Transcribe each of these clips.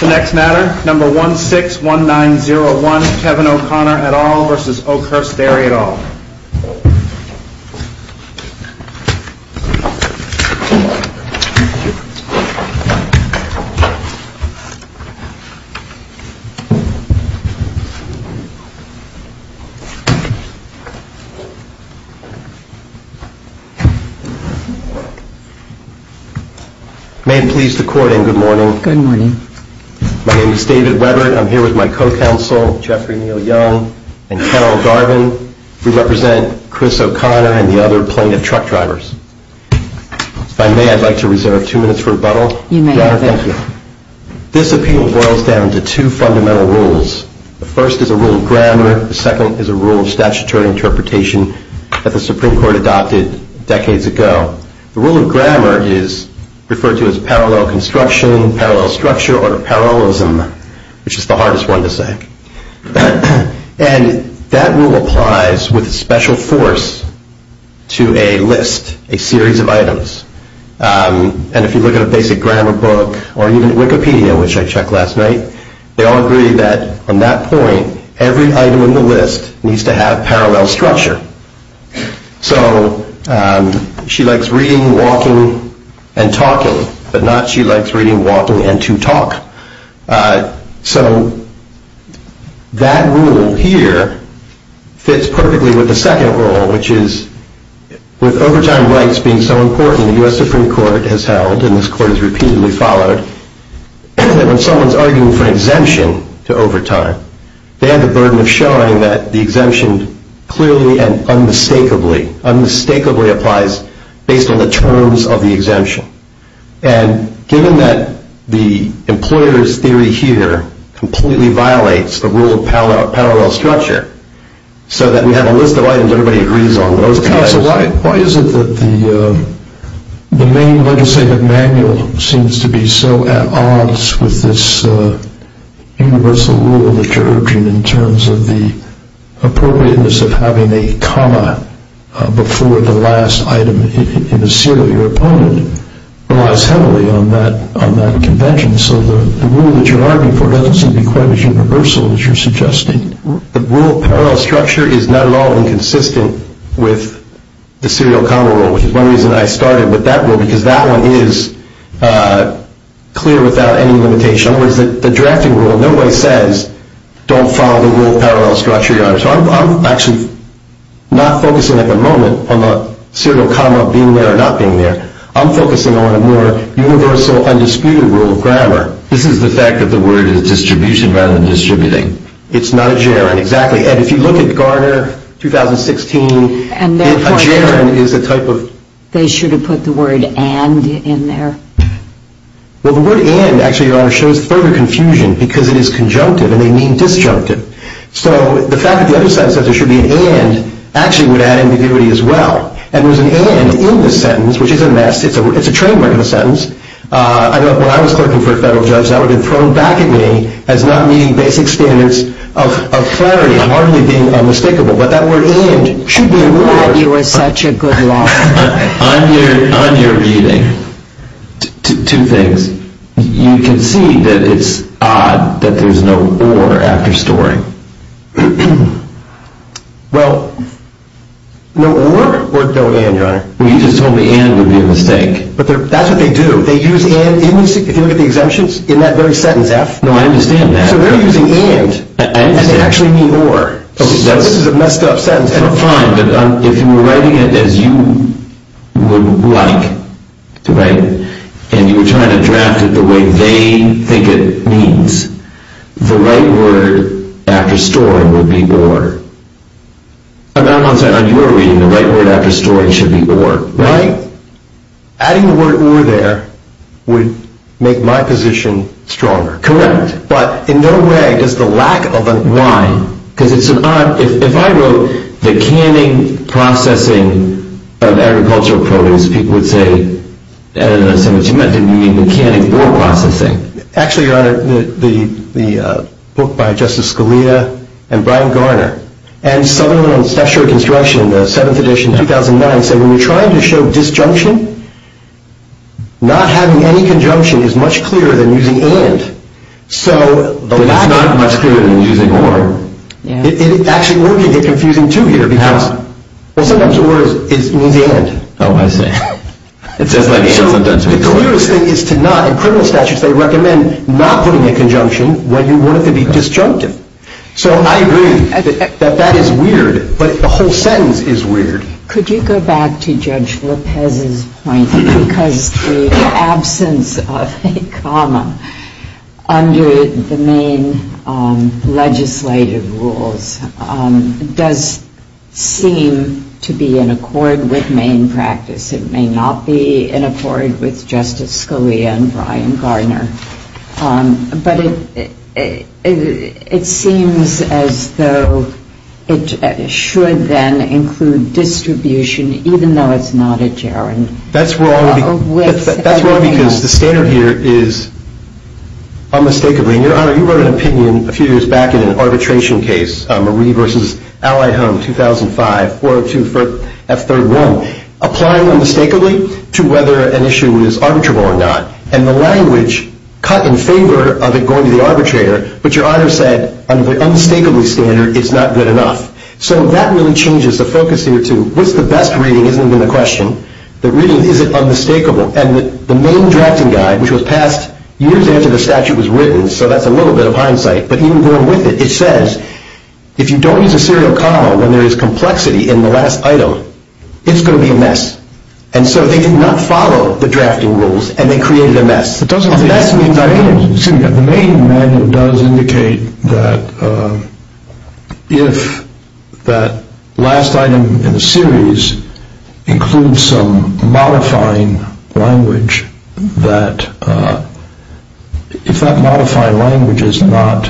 The next matter, number 161901, Kevin O'Connor et al. v. Oakhurst Dairy et al. v. Oakhurst Dairy et al. v. Oakhurst Dairy et al. v. Oakhurst Dairy et al. v. Oakhurst Dairy. I like to reserve two minutes for rebuttal. Your Honor, thank you. This opinion boils down to two fundamental rules. The first is a rule of grammar, the second is a rule of statutory interpretation that the Supreme Court adopted decades ago. The rule of grammar is referred to as parallel construction, parallel structure, or parallelism, which is the hardest one to say. And that rule applies with special force to a list, a series of items. And if you look at a basic grammar book or even Wikipedia, which I checked last night, they all agree that on that point, every item on the list needs to have parallel structure. So she likes reading, walking, and talking, but not she likes reading, walking, and to talk. So that rule here fits perfectly with the second rule, which is with overtime rights being so important, the U.S. Supreme Court has held, and this court has repeatedly followed, that when someone's arguing for an exemption to overtime, they have the burden of showing that the exemption clearly and unmistakably, unmistakably applies based on the terms of the exemption. And given that the employer's theory here completely violates the rule of parallel structure, so that we have a list of items everybody agrees on, those guys... But counsel, why is it that the main legislative manual seems to be so at odds with this universal rule that you're urging in terms of the appropriateness of having a comma before the last item in a serial? Your opponent relies heavily on that convention, so the rule that you're arguing for doesn't seem to be quite as universal as you're suggesting. The rule of parallel structure is not at all inconsistent with the serial comma rule, which is one reason I started with that rule, because that one is clear without any limitation. In other words, the drafting rule, nobody says, don't follow the rule of parallel structure, Your Honor. So I'm actually not focusing at the moment on the serial comma being there or not being there. I'm focusing on a more universal, undisputed rule of grammar. This is the fact that the word is distribution rather than distributing. It's not a gerund. Exactly. And if you look at Garner 2016, a gerund is a type of... They should have put the word and in there. Well, the word and, actually, Your Honor, shows further confusion, because it is conjunctive and they mean disjunctive. So the fact that the other sentence says there should be an and actually would add ambiguity as well. And there's an and in the sentence, which is a mess. It's a trademark of the sentence. When I was clerking for a federal judge, that would have been thrown back at me as not meeting basic standards of clarity and hardly being unmistakable. But that word and should be more... I thought you were such a good lawyer. On your reading, two things. You can see that it's odd that there's no or after storing. Well, no or or no and, Your Honor. Well, you just told me and would be a mistake. But that's what they do. They use and, if you look at the exemptions, in that very sentence, F. No, I understand that. So they're using and. I understand. And they actually mean or. So this is a messed up sentence. That's fine. But if you were writing it as you would like to write it and you were trying to draft it the way they think it means, the right word after storing would be or. I'm not saying on your reading the right word after storing should be or. Right. Adding the word or there would make my position stronger. Correct. But in no way does the lack of a why. Because it's an odd, if I wrote the canning processing of agricultural produce, people would say, I don't understand what you meant. Didn't you mean the canning or processing? Actually, Your Honor, the book by Justice Scalia and Brian Garner and someone on structural construction, the 7th edition, 2009, said when you're trying to show disjunction, not having any conjunction is much clearer than using and. It's not much clearer than using or. It actually will get confusing, too, here. Because sometimes or means and. Oh, I see. It says like and sometimes. So the clearest thing is to not, in criminal statutes, they recommend not putting a conjunction when you want it to be disjunctive. So I agree that that is weird. But the whole sentence is weird. Could you go back to Judge Lopez's point? Because the absence of a comma under the main legislative rules does seem to be in accord with main practice. It may not be in accord with Justice Scalia and Brian Garner. But it seems as though it should then include distribution, even though it's not a gerund. That's wrong because the standard here is unmistakably. Your Honor, you wrote an opinion a few years back in an arbitration case, Marie v. Allied Home, 2005, 402-F31, applying unmistakably to whether an issue is arbitrable or not. And the language cut in favor of it going to the arbitrator. But Your Honor said, under the unmistakably standard, it's not good enough. So that really changes the focus here to what's the best reading? The reading isn't even a question. The reading, is it unmistakable? And the main drafting guide, which was passed years after the statute was written, so that's a little bit of hindsight, but even going with it, it says, if you don't use a serial comma when there is complexity in the last item, it's going to be a mess. And so they did not follow the drafting rules, and they created a mess. The main manual does indicate that if that last item in the series includes some modifying language, that if that modifying language is not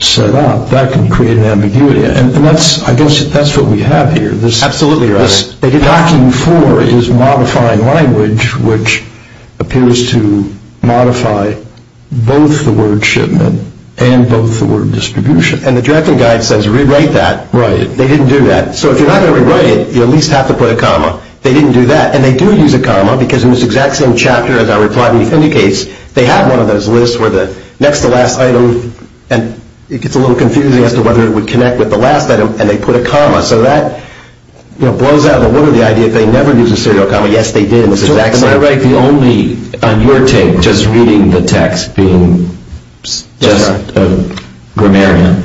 set up, that can create an ambiguity. And I guess that's what we have here. Absolutely, Your Honor. What they're talking for is modifying language, which appears to modify both the word shipment and both the word distribution. And the drafting guide says rewrite that. Right. They didn't do that. So if you're not going to rewrite it, you at least have to put a comma. They didn't do that. And they do use a comma, because in this exact same chapter, as our reply brief indicates, they have one of those lists where the next to last item, and it gets a little confusing as to whether it would connect with the last item, and they put a comma. So that blows out of the water the idea that they never used a serial comma. Yes, they did. It was the exact same thing. Am I right? The only, on your take, just reading the text, being just a grammarian,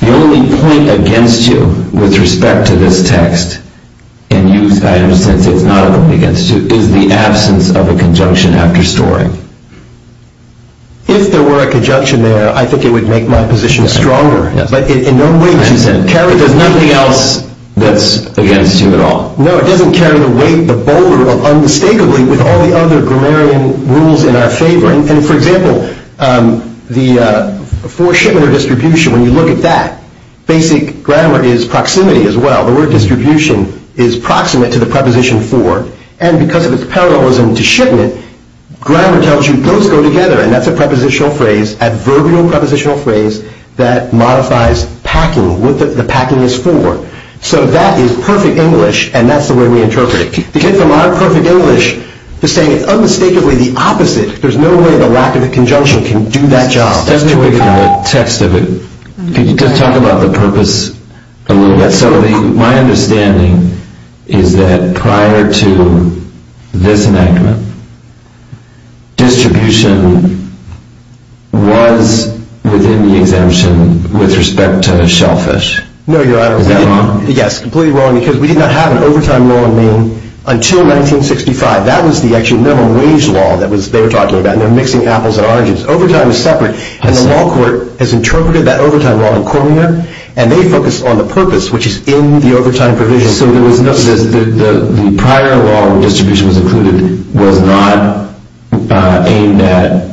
the only point against you with respect to this text, and use items since it's not a point against you, is the absence of a conjunction after storing. If there were a conjunction there, I think it would make my position stronger. But in no way, as you said, carry does nothing else that's against you at all. No, it doesn't carry the weight, the boulder of unmistakably with all the other grammarian rules in our favor. And for example, the for shipment or distribution, when you look at that, basic grammar is proximity as well. The word distribution is proximate to the preposition for, and because of its parallelism to shipment, grammar tells you those go together, and that's a prepositional phrase, adverbial prepositional phrase, that modifies packing, what the packing is for. So that is perfect English, and that's the way we interpret it. To get from our perfect English to saying unmistakably the opposite, there's no way the lack of a conjunction can do that job. Just to pick up on the text of it, could you just talk about the purpose a little bit? So my understanding is that prior to this enactment, distribution was within the exemption with respect to shellfish. Is that wrong? Yes, completely wrong, because we did not have an overtime law in Maine until 1965. That was the actual minimum wage law that they were talking about, and they're mixing apples and oranges. Overtime is separate, and the law court has interpreted that overtime law in Cormier, and they focus on the purpose, which is in the overtime provision. So the prior law where distribution was included was not aimed at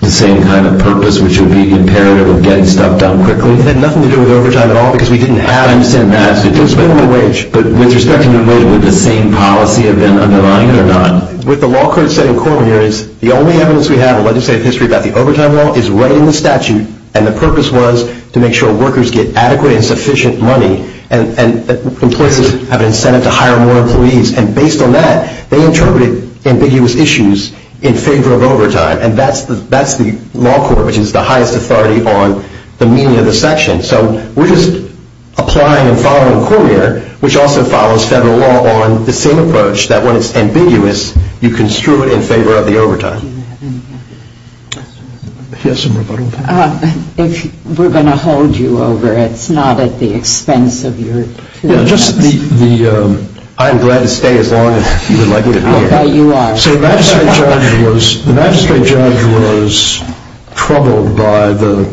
the same kind of purpose, which would be imperative of getting stuff done quickly? It had nothing to do with overtime at all, because we didn't have an exempt max. It was minimum wage. But with respect to the minimum wage, would the same policy have been underlying it or not? What the law court said in Cormier is the only evidence we have in legislative history about the overtime law is right in the statute, and the purpose was to make sure workers get adequate and sufficient money and employees have an incentive to hire more employees. And based on that, they interpreted ambiguous issues in favor of overtime, and that's the law court, which is the highest authority on the meaning of the section. So we're just applying and following Cormier, which also follows federal law on the same approach, that when it's ambiguous, you construe it in favor of the overtime. Do you have any other questions? If we're going to hold you over, it's not at the expense of your two minutes. I'm glad to stay as long as you would like me to be here. I'll bet you are. So the magistrate judge was troubled by the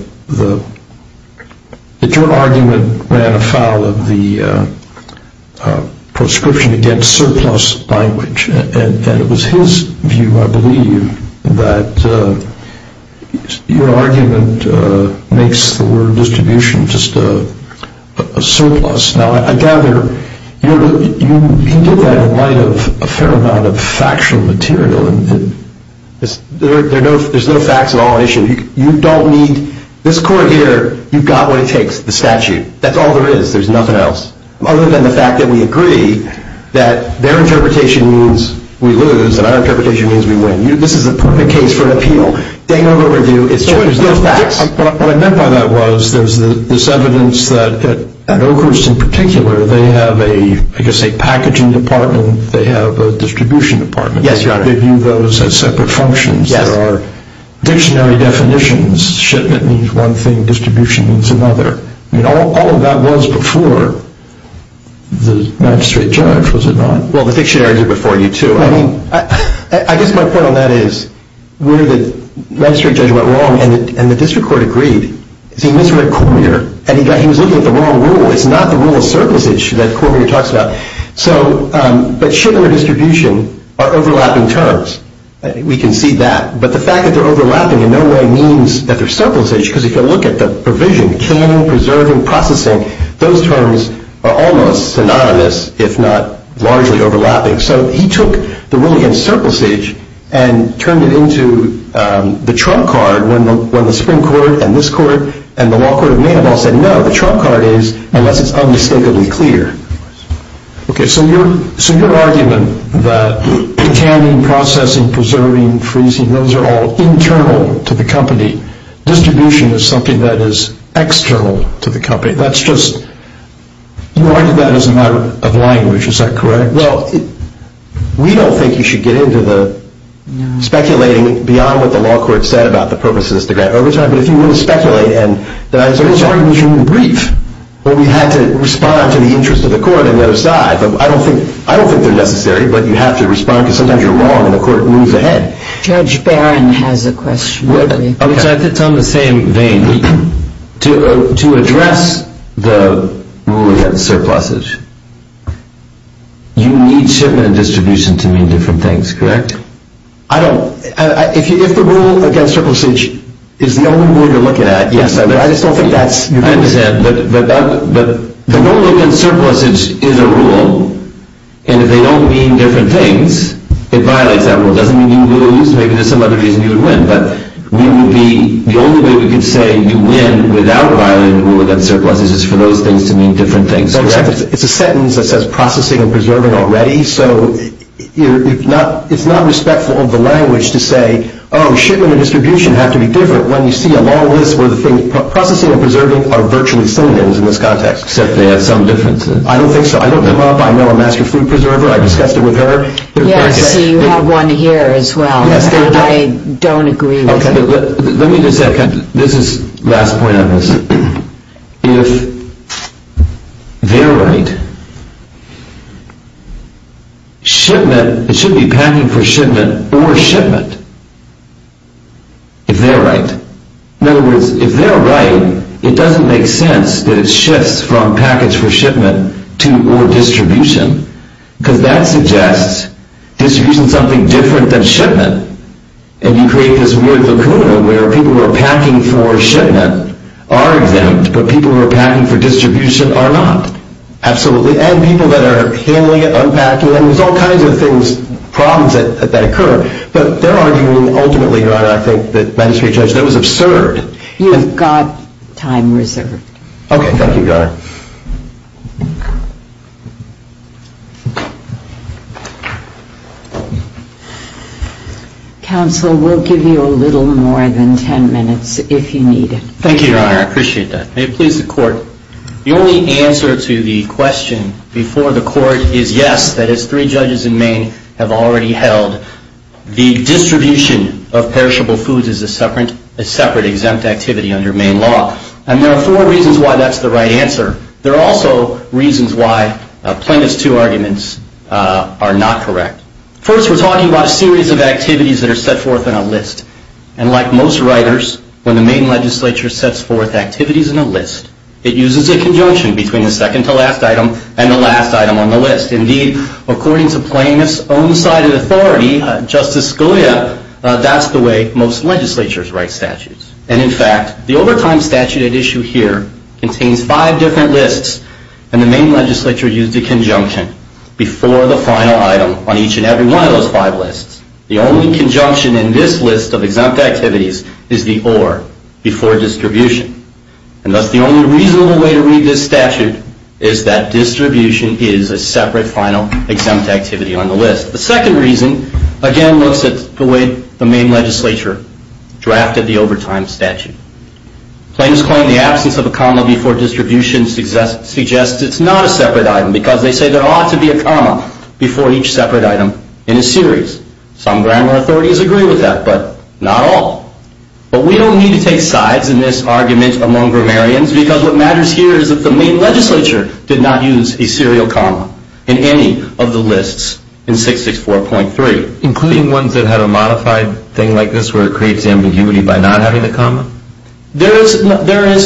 joint argument ran afoul of the proscription against surplus language, and it was his view, I believe, that your argument makes the word distribution just a surplus. Now, I gather you can get that in light of a fair amount of factual material, and there's no facts at all issue. You don't need – this court here, you've got what it takes, the statute. That's all there is. There's nothing else. Other than the fact that we agree that their interpretation means we lose, and our interpretation means we win. This is a perfect case for an appeal. They know the review. It's just the facts. What I meant by that was there's this evidence that at Oakhurst in particular, they have a, I guess, a packaging department. They have a distribution department. Yes, Your Honor. They view those as separate functions. There are dictionary definitions. Shipment means one thing. Distribution means another. All of that was before the magistrate judge, was it not? Well, the dictionaries are before you, too. I guess my point on that is where the magistrate judge went wrong and the district court agreed is he misread Cormier, and he was looking at the wrong rule. It's not the rule of surplusage that Cormier talks about. But ship and redistribution are overlapping terms. We can see that. But the fact that they're overlapping in no way means that they're surplusage because if you look at the provision, canning, preserving, processing, those terms are almost synonymous, if not largely overlapping. So he took the rule against surplusage and turned it into the trump card when the Supreme Court and this court and the law court of Maynabal said, no, the trump card is unless it's unmistakably clear. Okay, so your argument that canning, processing, preserving, freezing, those are all internal to the company. Distribution is something that is external to the company. That's just, you argued that as a matter of language. Is that correct? Well, we don't think you should get into the speculating beyond what the law court said about the purposes to grant overtime. But if you want to speculate, and there's arguments you can brief, but we had to respond to the interest of the court on the other side. I don't think they're necessary, but you have to respond because sometimes you're wrong and the court moves ahead. Judge Barron has a question. Which I think is on the same vein. To address the rule against surplusage, you need shipment and distribution to mean different things, correct? I don't, if the rule against surplusage is the only rule you're looking at, yes, I just don't think that's your point. I understand, but the rule against surplusage is a rule, and if they don't mean different things, it violates that rule. It doesn't mean you lose. Maybe there's some other reason you would win, but the only way we can say you win without violating the rule against surplusage is for those things to mean different things, correct? It's a sentence that says processing and preserving already, so it's not respectful of the language to say, oh, shipment and distribution have to be different when you see a long list where processing and preserving are virtually synonyms in this context. Except they have some differences. I don't think so. I looked them up. I know a master food preserver. I discussed it with her. Yes, so you have one here as well that I don't agree with. Let me just add, this is the last point on this. If they're right, shipment, it should be packing for shipment or shipment, if they're right. In other words, if they're right, it doesn't make sense that it shifts from package for shipment to or distribution, because that suggests distribution is something different than shipment. And you create this weird lacuna where people who are packing for shipment are exempt, but people who are packing for distribution are not. Absolutely. And people that are handling it, unpacking it, and there's all kinds of things, problems that occur. But they're arguing, ultimately, Your Honor, I think the magistrate judge, that was absurd. You have got time reserved. Okay, thank you, Your Honor. Counsel, we'll give you a little more than 10 minutes, if you need it. Thank you, Your Honor. I appreciate that. May it please the Court. The only answer to the question before the Court is yes, that as three judges in Maine have already held, the distribution of perishable foods is a separate exempt activity under Maine law. And there are four reasons why that's the right answer. There are also reasons why Appendix 206, the two arguments, are not correct. First, we're talking about a series of activities that are set forth in a list. And like most writers, when the Maine legislature sets forth activities in a list, it uses a conjunction between the second-to-last item and the last item on the list. Indeed, according to plaintiff's own side of authority, Justice Scalia, that's the way most legislatures write statutes. And in fact, the overtime statute at issue here contains five different lists, and the Maine legislature used a conjunction before the final item on each and every one of those five lists. The only conjunction in this list of exempt activities is the or before distribution. And thus, the only reasonable way to read this statute is that distribution is a separate final exempt activity on the list. The second reason, again, looks at the way the Maine legislature drafted the overtime statute. Plaintiffs claim the absence of a comma before each item, because they say there ought to be a comma before each separate item in a series. Some grammar authorities agree with that, but not all. But we don't need to take sides in this argument among grammarians, because what matters here is that the Maine legislature did not use a serial comma in any of the lists in 664.3. Including ones that had a modified thing like this where it creates ambiguity by not having the comma? There is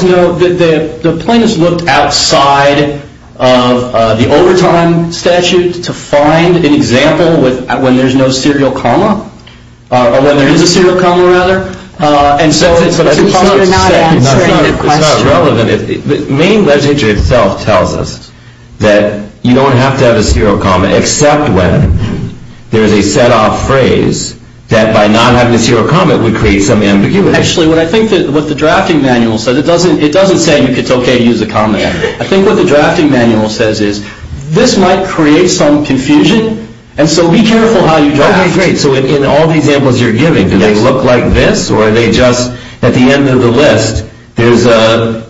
no. The plaintiffs looked outside of the overtime statute to find an example when there's no serial comma, or when there is a serial comma, rather. And so it's impossible to say. It's not relevant. The Maine legislature itself tells us that you don't have to have a serial comma, except when there is a set off phrase that by not having a serial comma, it would create some ambiguity. Actually, what I think what the drafting manual says, it doesn't say it's okay to use a comma. I think what the drafting manual says is this might create some confusion, and so be careful how you draft. Okay, great. So in all the examples you're giving, do they look like this, or are they just at the end of the list, there's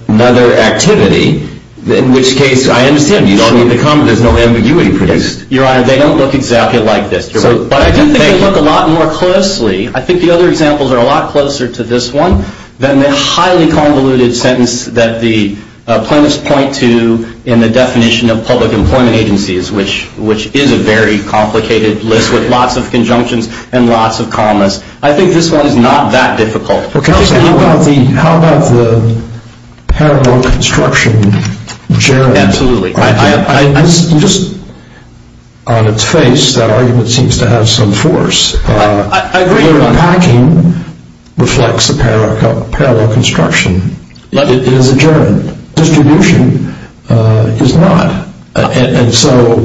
another activity? In which case, I understand, you don't need the comma. There's no ambiguity produced. Your Honor, they don't look exactly like this. But I do think they look a lot more closely. I think the other examples are a lot closer to this one than the highly convoluted sentence that the plaintiffs point to in the definition of public employment agencies, which is a very complicated list with lots of conjunctions and lots of commas. I think this one is not that difficult. Counsel, how about the paramount construction? Absolutely. Just on its face, that argument seems to have some force. I agree, Your Honor. The way you're unpacking reflects the paramount construction. It is adjourned. Distribution is not. And so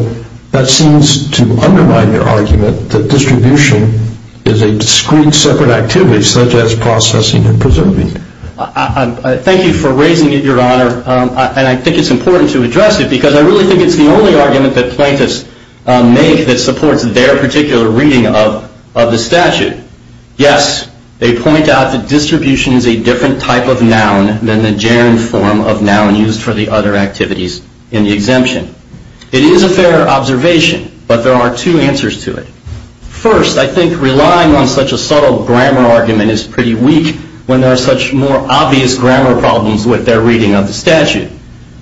that seems to undermine your argument that distribution is a discrete separate activity such as processing and preserving. Thank you for raising it, Your Honor. And I think it's important to address it because I really think it's the only argument that plaintiffs make that supports their particular reading of the statute. Yes, they point out that distribution is a different type of noun than the gerund form of noun used for the other activities in the exemption. It is a fair observation, but there are two answers to it. First, I think relying on such a subtle grammar argument is pretty weak when there are such more obvious grammar problems with their reading of the statute.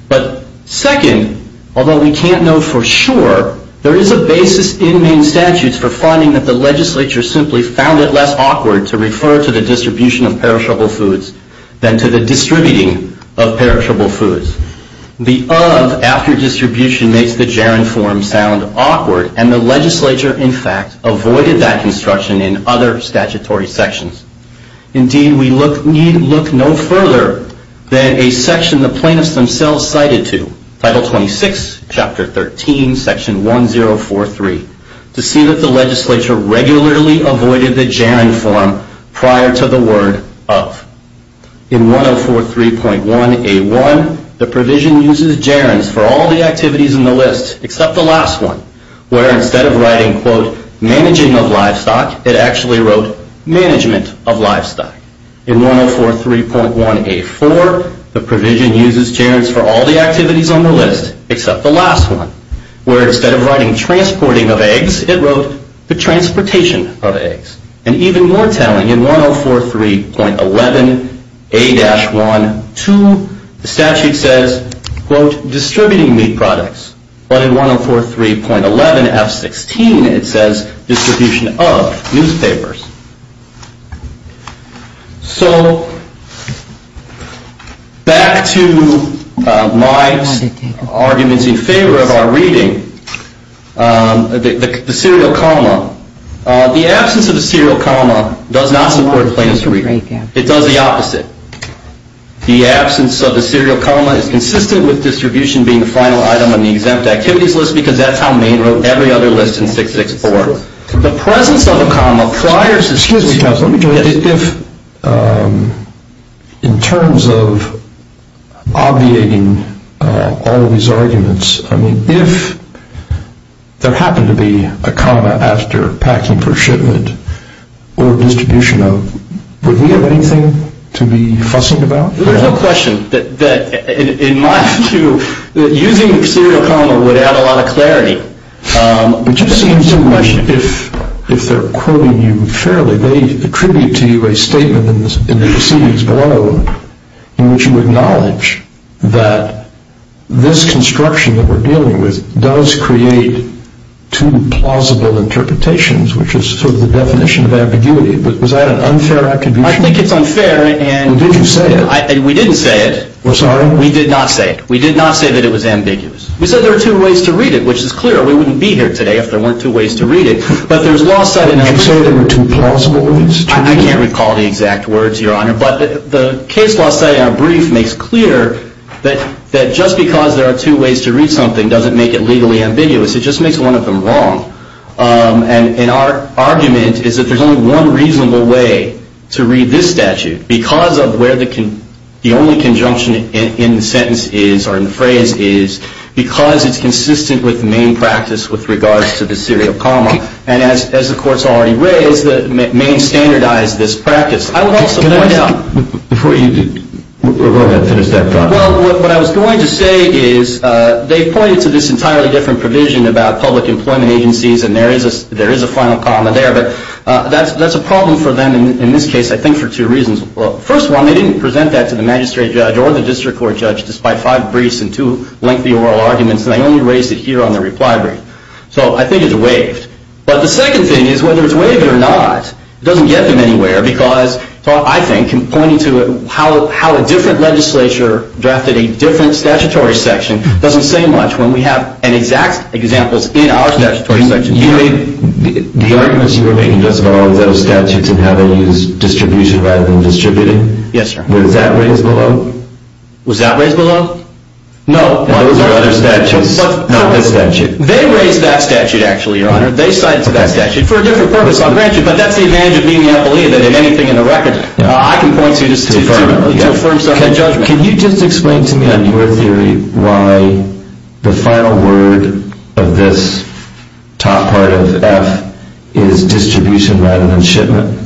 But second, although we can't know for sure, there is a basis in Maine statutes for finding that the legislature simply found it less awkward to refer to the distribution of perishable foods than to the distributing of perishable foods. The of after distribution makes the gerund form sound awkward, and the legislature, in fact, avoided that construction in other statutory sections. Indeed, we need look no further than a section the plaintiffs themselves cited to, Title 26, Chapter 13, Section 1043, to see that the legislature regularly avoided the gerund form prior to the word of. In 1043.1a1, the provision uses gerunds for all the activities in the list, except the last one, where instead of writing, quote, managing of livestock, it actually wrote management of livestock. In 1043.1a4, the provision uses gerunds for all the activities on the list, except the last one, where instead of writing transporting of eggs, it wrote the transportation of eggs. And even more telling, in 1043.11a-1-2, the statute says, quote, distributing meat products. But in 1043.11f16, it says distribution of newspapers. So, back to my arguments in favor of our reading, the serial comma. The absence of the serial comma does not support plaintiff's reading. It does the opposite. The absence of the serial comma is consistent with distribution being the final item on the exempt activities list, because that's how Maine wrote every other list in 664. The presence of a comma prior to... Excuse me, Counsel. Let me just... If, in terms of obviating all of these arguments, I mean, if there happened to be a comma after packing for shipment, or distribution of, would we have anything to be fussing about? There's a question that, in my view, using the serial comma would add a lot of clarity. It just seems to me, if they're quoting you fairly, they attribute to you a statement in the proceedings below in which you acknowledge that this construction that we're dealing with does create two plausible interpretations, which is sort of the definition of ambiguity. Was that an unfair attribution? I think it's unfair, and... Well, did you say it? We didn't say it. We're sorry? We did not say it. We did not say that it was ambiguous. We said there were two ways to read it, which is clear. We wouldn't be here today if there weren't two ways to read it. But there's lost sight... Did you say there were two plausible ways to read it? I can't recall the exact words, Your Honor, but the case lost sight in our brief makes clear that just because there are two ways to read something doesn't make it legally ambiguous. It just makes one of them wrong. And our argument is that there's only one reasonable way to read this statute because of where the only conjunction in the sentence is or in the phrase is, because it's consistent with the main practice with regards to the serial comma. And as the Court's already raised, the main standardized this practice. I would also point out... Before you... We're going to finish that thought. Well, what I was going to say is they pointed to this entirely different provision about public employment agencies, and there is a final comma there, but that's a problem for them in this case, I think, for two reasons. Well, first one, they didn't present that to the magistrate judge or the district court judge despite five briefs and two lengthy oral arguments, and they only raised it here on the reply brief. So I think it's waived. But the second thing is, whether it's waived or not, it doesn't get them anywhere because, I think, in pointing to how a different legislature drafted a different statutory section doesn't say much when we have an exact example in our statutory section. You mean the arguments you were making just about all the other statutes and how they use distribution rather than distributing? Yes, sir. Was that raised below? Was that raised below? No. Those are other statutes, not this statute. They raised that statute, actually, Your Honor. They cited that statute for a different purpose. I'll grant you, but that's the advantage of being the FLE than anything in the record. I can point to a firm judgment. Can you just explain to me on your theory why the final word of this top part of F is distribution rather than shipment?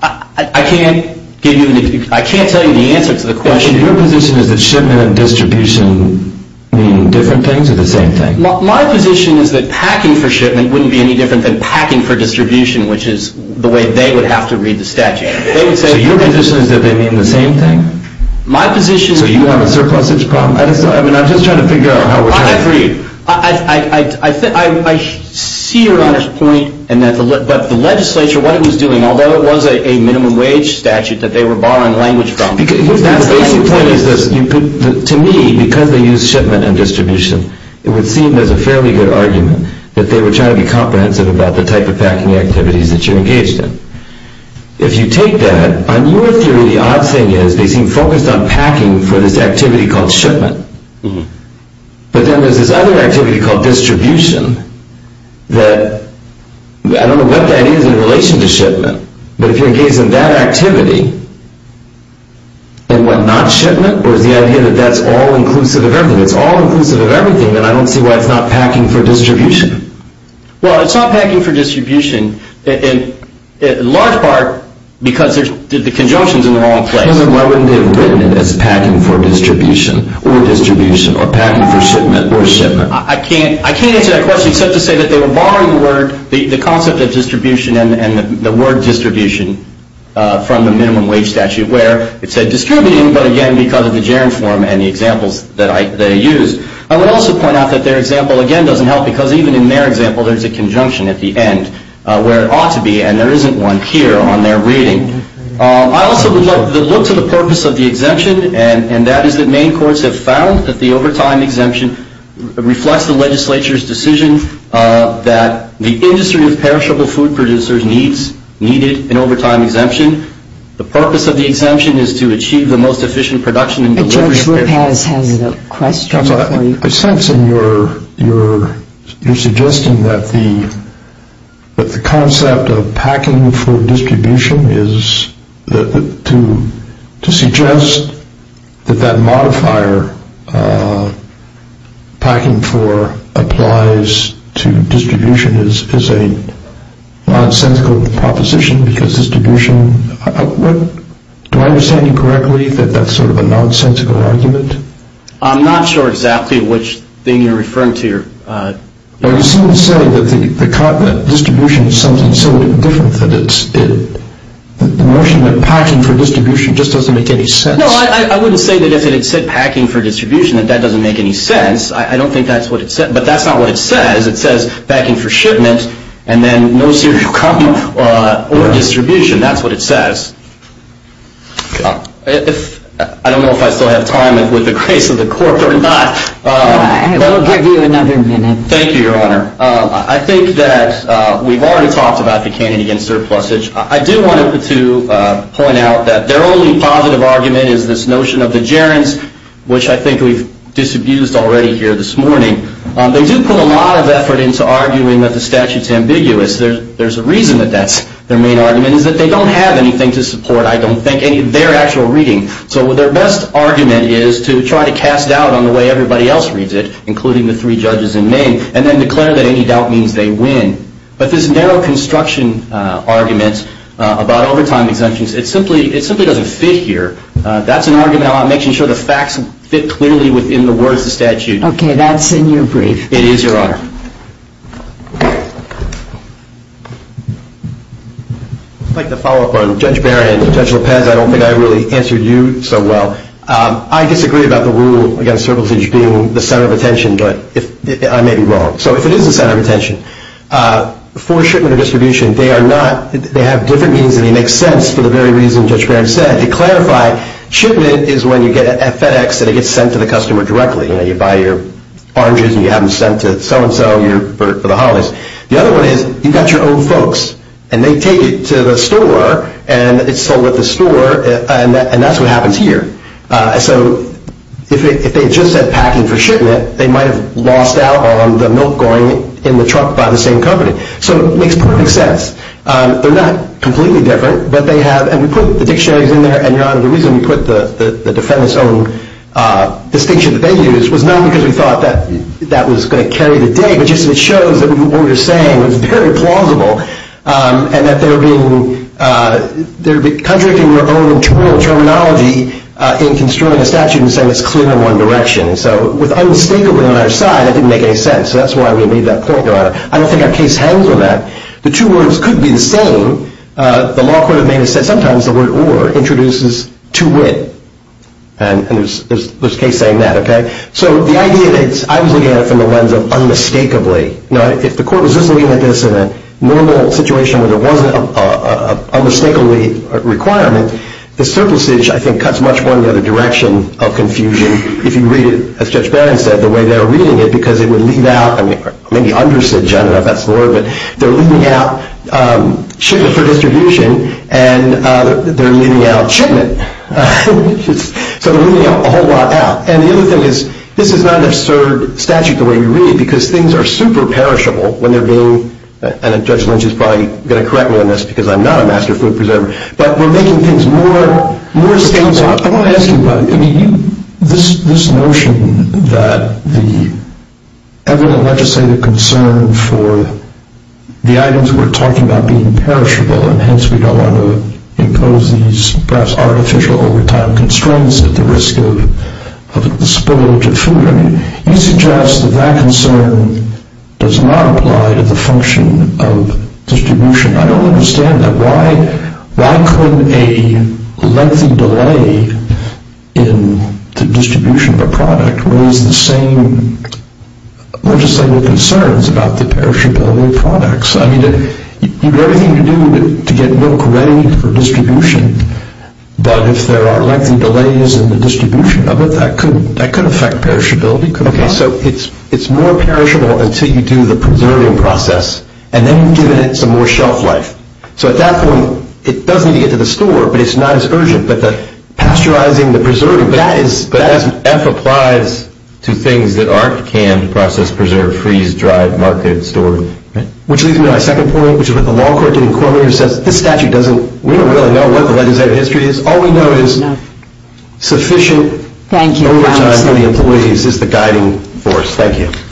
I can't tell you the answer to the question. Your position is that shipment and distribution mean different things or the same thing? My position is that packing for shipment wouldn't be any different than packing for distribution, which is the way they would have to read the statute. So your position is that they mean the same thing? So you have a surplusage problem? I'm just trying to figure out how we're talking. I agree. I see Your Honor's point, but the legislature, what it was doing, although it was a minimum wage statute that they were borrowing language from, the basic point is this. To me, because they use shipment and distribution, it would seem there's a fairly good argument that they were trying to be comprehensive about the type of packing activities that you're engaged in. If you take that, on your theory the odd thing is they seem focused on packing for this activity called shipment. But then there's this other activity called distribution that I don't know what that is in relation to shipment, but if you're engaged in that activity and what, not shipment? Or is the idea that that's all-inclusive of everything? It's all-inclusive of everything, and I don't see why it's not packing for distribution. Well, it's not packing for distribution in large part because the conjunction's in the wrong place. Then why wouldn't they have written it as packing for distribution or distribution or packing for shipment or shipment? I can't answer that question except to say that they were borrowing the word, the concept of distribution and the word distribution from the Minimum Wage Statute where it said distributing, but again because of the germ form and the examples that they used. I would also point out that their example again doesn't help because even in their example there's a conjunction at the end where it ought to be and there isn't one here on their reading. I also would like to look to the purpose of the exemption and that is that Maine courts have found that the overtime exemption reflects the legislature's decision that the industry of perishable food producers needs an overtime exemption. The purpose of the exemption is to achieve the most efficient production and delivery of perishable food. Judge Lopez has a question for you. I sense in your suggestion that the concept of packing for distribution is to suggest that that modifier packing for applies to distribution is a nonsensical proposition because distribution, do I understand you correctly that that's sort of a nonsensical argument? I'm not sure exactly which thing you're referring to. You seem to say that distribution is something so different that the notion of packing for distribution just doesn't make any sense. No, I wouldn't say that I sense that it said packing for distribution and that doesn't make any sense. I don't think that's what it said but that's not what it says. It says packing for shipment and then no cereal coming or distribution. That's what it says. I don't know if I still have time with the grace of the court or not. I will give you another minute. Thank you, Your Honor. I think that we've already talked about the candidate against surplusage. I do want to point out that their only positive argument is this notion of the gerunds which I think we've disabused already here this morning. They do put a lot of effort into arguing that the statute's ambiguous. There's a reason that that's their main argument is that they don't have anything to support I don't think their actual reading. So their best argument is to try to cast doubt on the way everybody else reads it including the three judges in Maine and then declare that any doubt means they win. But this narrow construction argument about overtime exemptions, it simply doesn't fit here. That's an argument about making sure the facts fit clearly within the words of the statute. Okay, that's in your brief. It is, Your Honor. I'd like to follow up on Judge Barron and Judge Lopez. I don't think I really answered you so well. I disagree about the rule against surplusage being the center of attention, but I may be wrong. So if it is the center of attention, for shipment or distribution, they have different meanings and they make sense for the very reason Judge Barron said. To clarify, shipment is when you get at FedEx and it gets sent to the customer directly. You buy your oranges and you have them sent to so-and-so for the holidays. The other one is you've got your own folks and they take it to the store and it's sold at the store and that's what happens here. So if they just said packing for shipment, they might have lost out on the milk going in the truck by the same company. So it makes perfect sense. They're not completely different, but they have, and we put the dictionaries in there and, Your Honor, the reason we put the defendant's own distinction that they used was not because we thought that that was going to carry the day, but just it shows that what we were saying was very plausible and that they were being, they were contracting their own internal terminology in construing a statute and saying it's clear in one direction. So with unmistakably on our side, that didn't make any sense, so that's why we made that point, Your Honor. I don't think our case hangs on that. The two words could be the same. The law could have made us say, sometimes the word or introduces to wit, and there's a case saying that, okay? So the idea that I was looking at it from the lens of unmistakably. Now, if the court was just looking at this in a normal situation where there wasn't an unmistakably requirement, the surplusage, I think, cuts much more in the other direction of confusion if you read it, as Judge Barron said, the way they were reading it, because it would leave out, I mean, maybe undersage, I don't know if that's the word, but they're leaving out shipment for distribution and they're leaving out shipment. So they're leaving a whole lot out. And the other thing is, this is not an absurd statute the way we read because things are super perishable when they're being, and Judge Lynch is probably going to correct me on this because I'm not a master food preserver, but we're making things more, more stable. I want to ask you about, I mean, this notion that the ever-legislative concern for the items we're talking about being perishable, and hence we don't want to impose these perhaps artificial overtime constraints at the risk of the spillage of food, I mean, you suggest that that concern does not apply to the function of distribution. I don't understand that. Why couldn't a lengthy delay in the distribution of a product raise the same legislative concerns about the perishability of products? I mean, you've got everything to do to get milk ready for distribution, but if there are lengthy delays in the distribution of it, that could affect perishability, could it not? Okay, so it's more perishable until you do the preserving process, and then you give it some more shelf life. So at that point, it does need to get to the store, but it's not as urgent. But the pasteurizing, the preserving, that is... But as F applies to things that aren't canned, processed, preserved, freezed, dried, marketed, stored, right? Which leads me to my second point, which is what the law court did in Cormier, says this statute doesn't... We don't really know what the legislative history is. All we know is sufficient... Thank you. ...overtime for the employees is the guiding force. Thank you.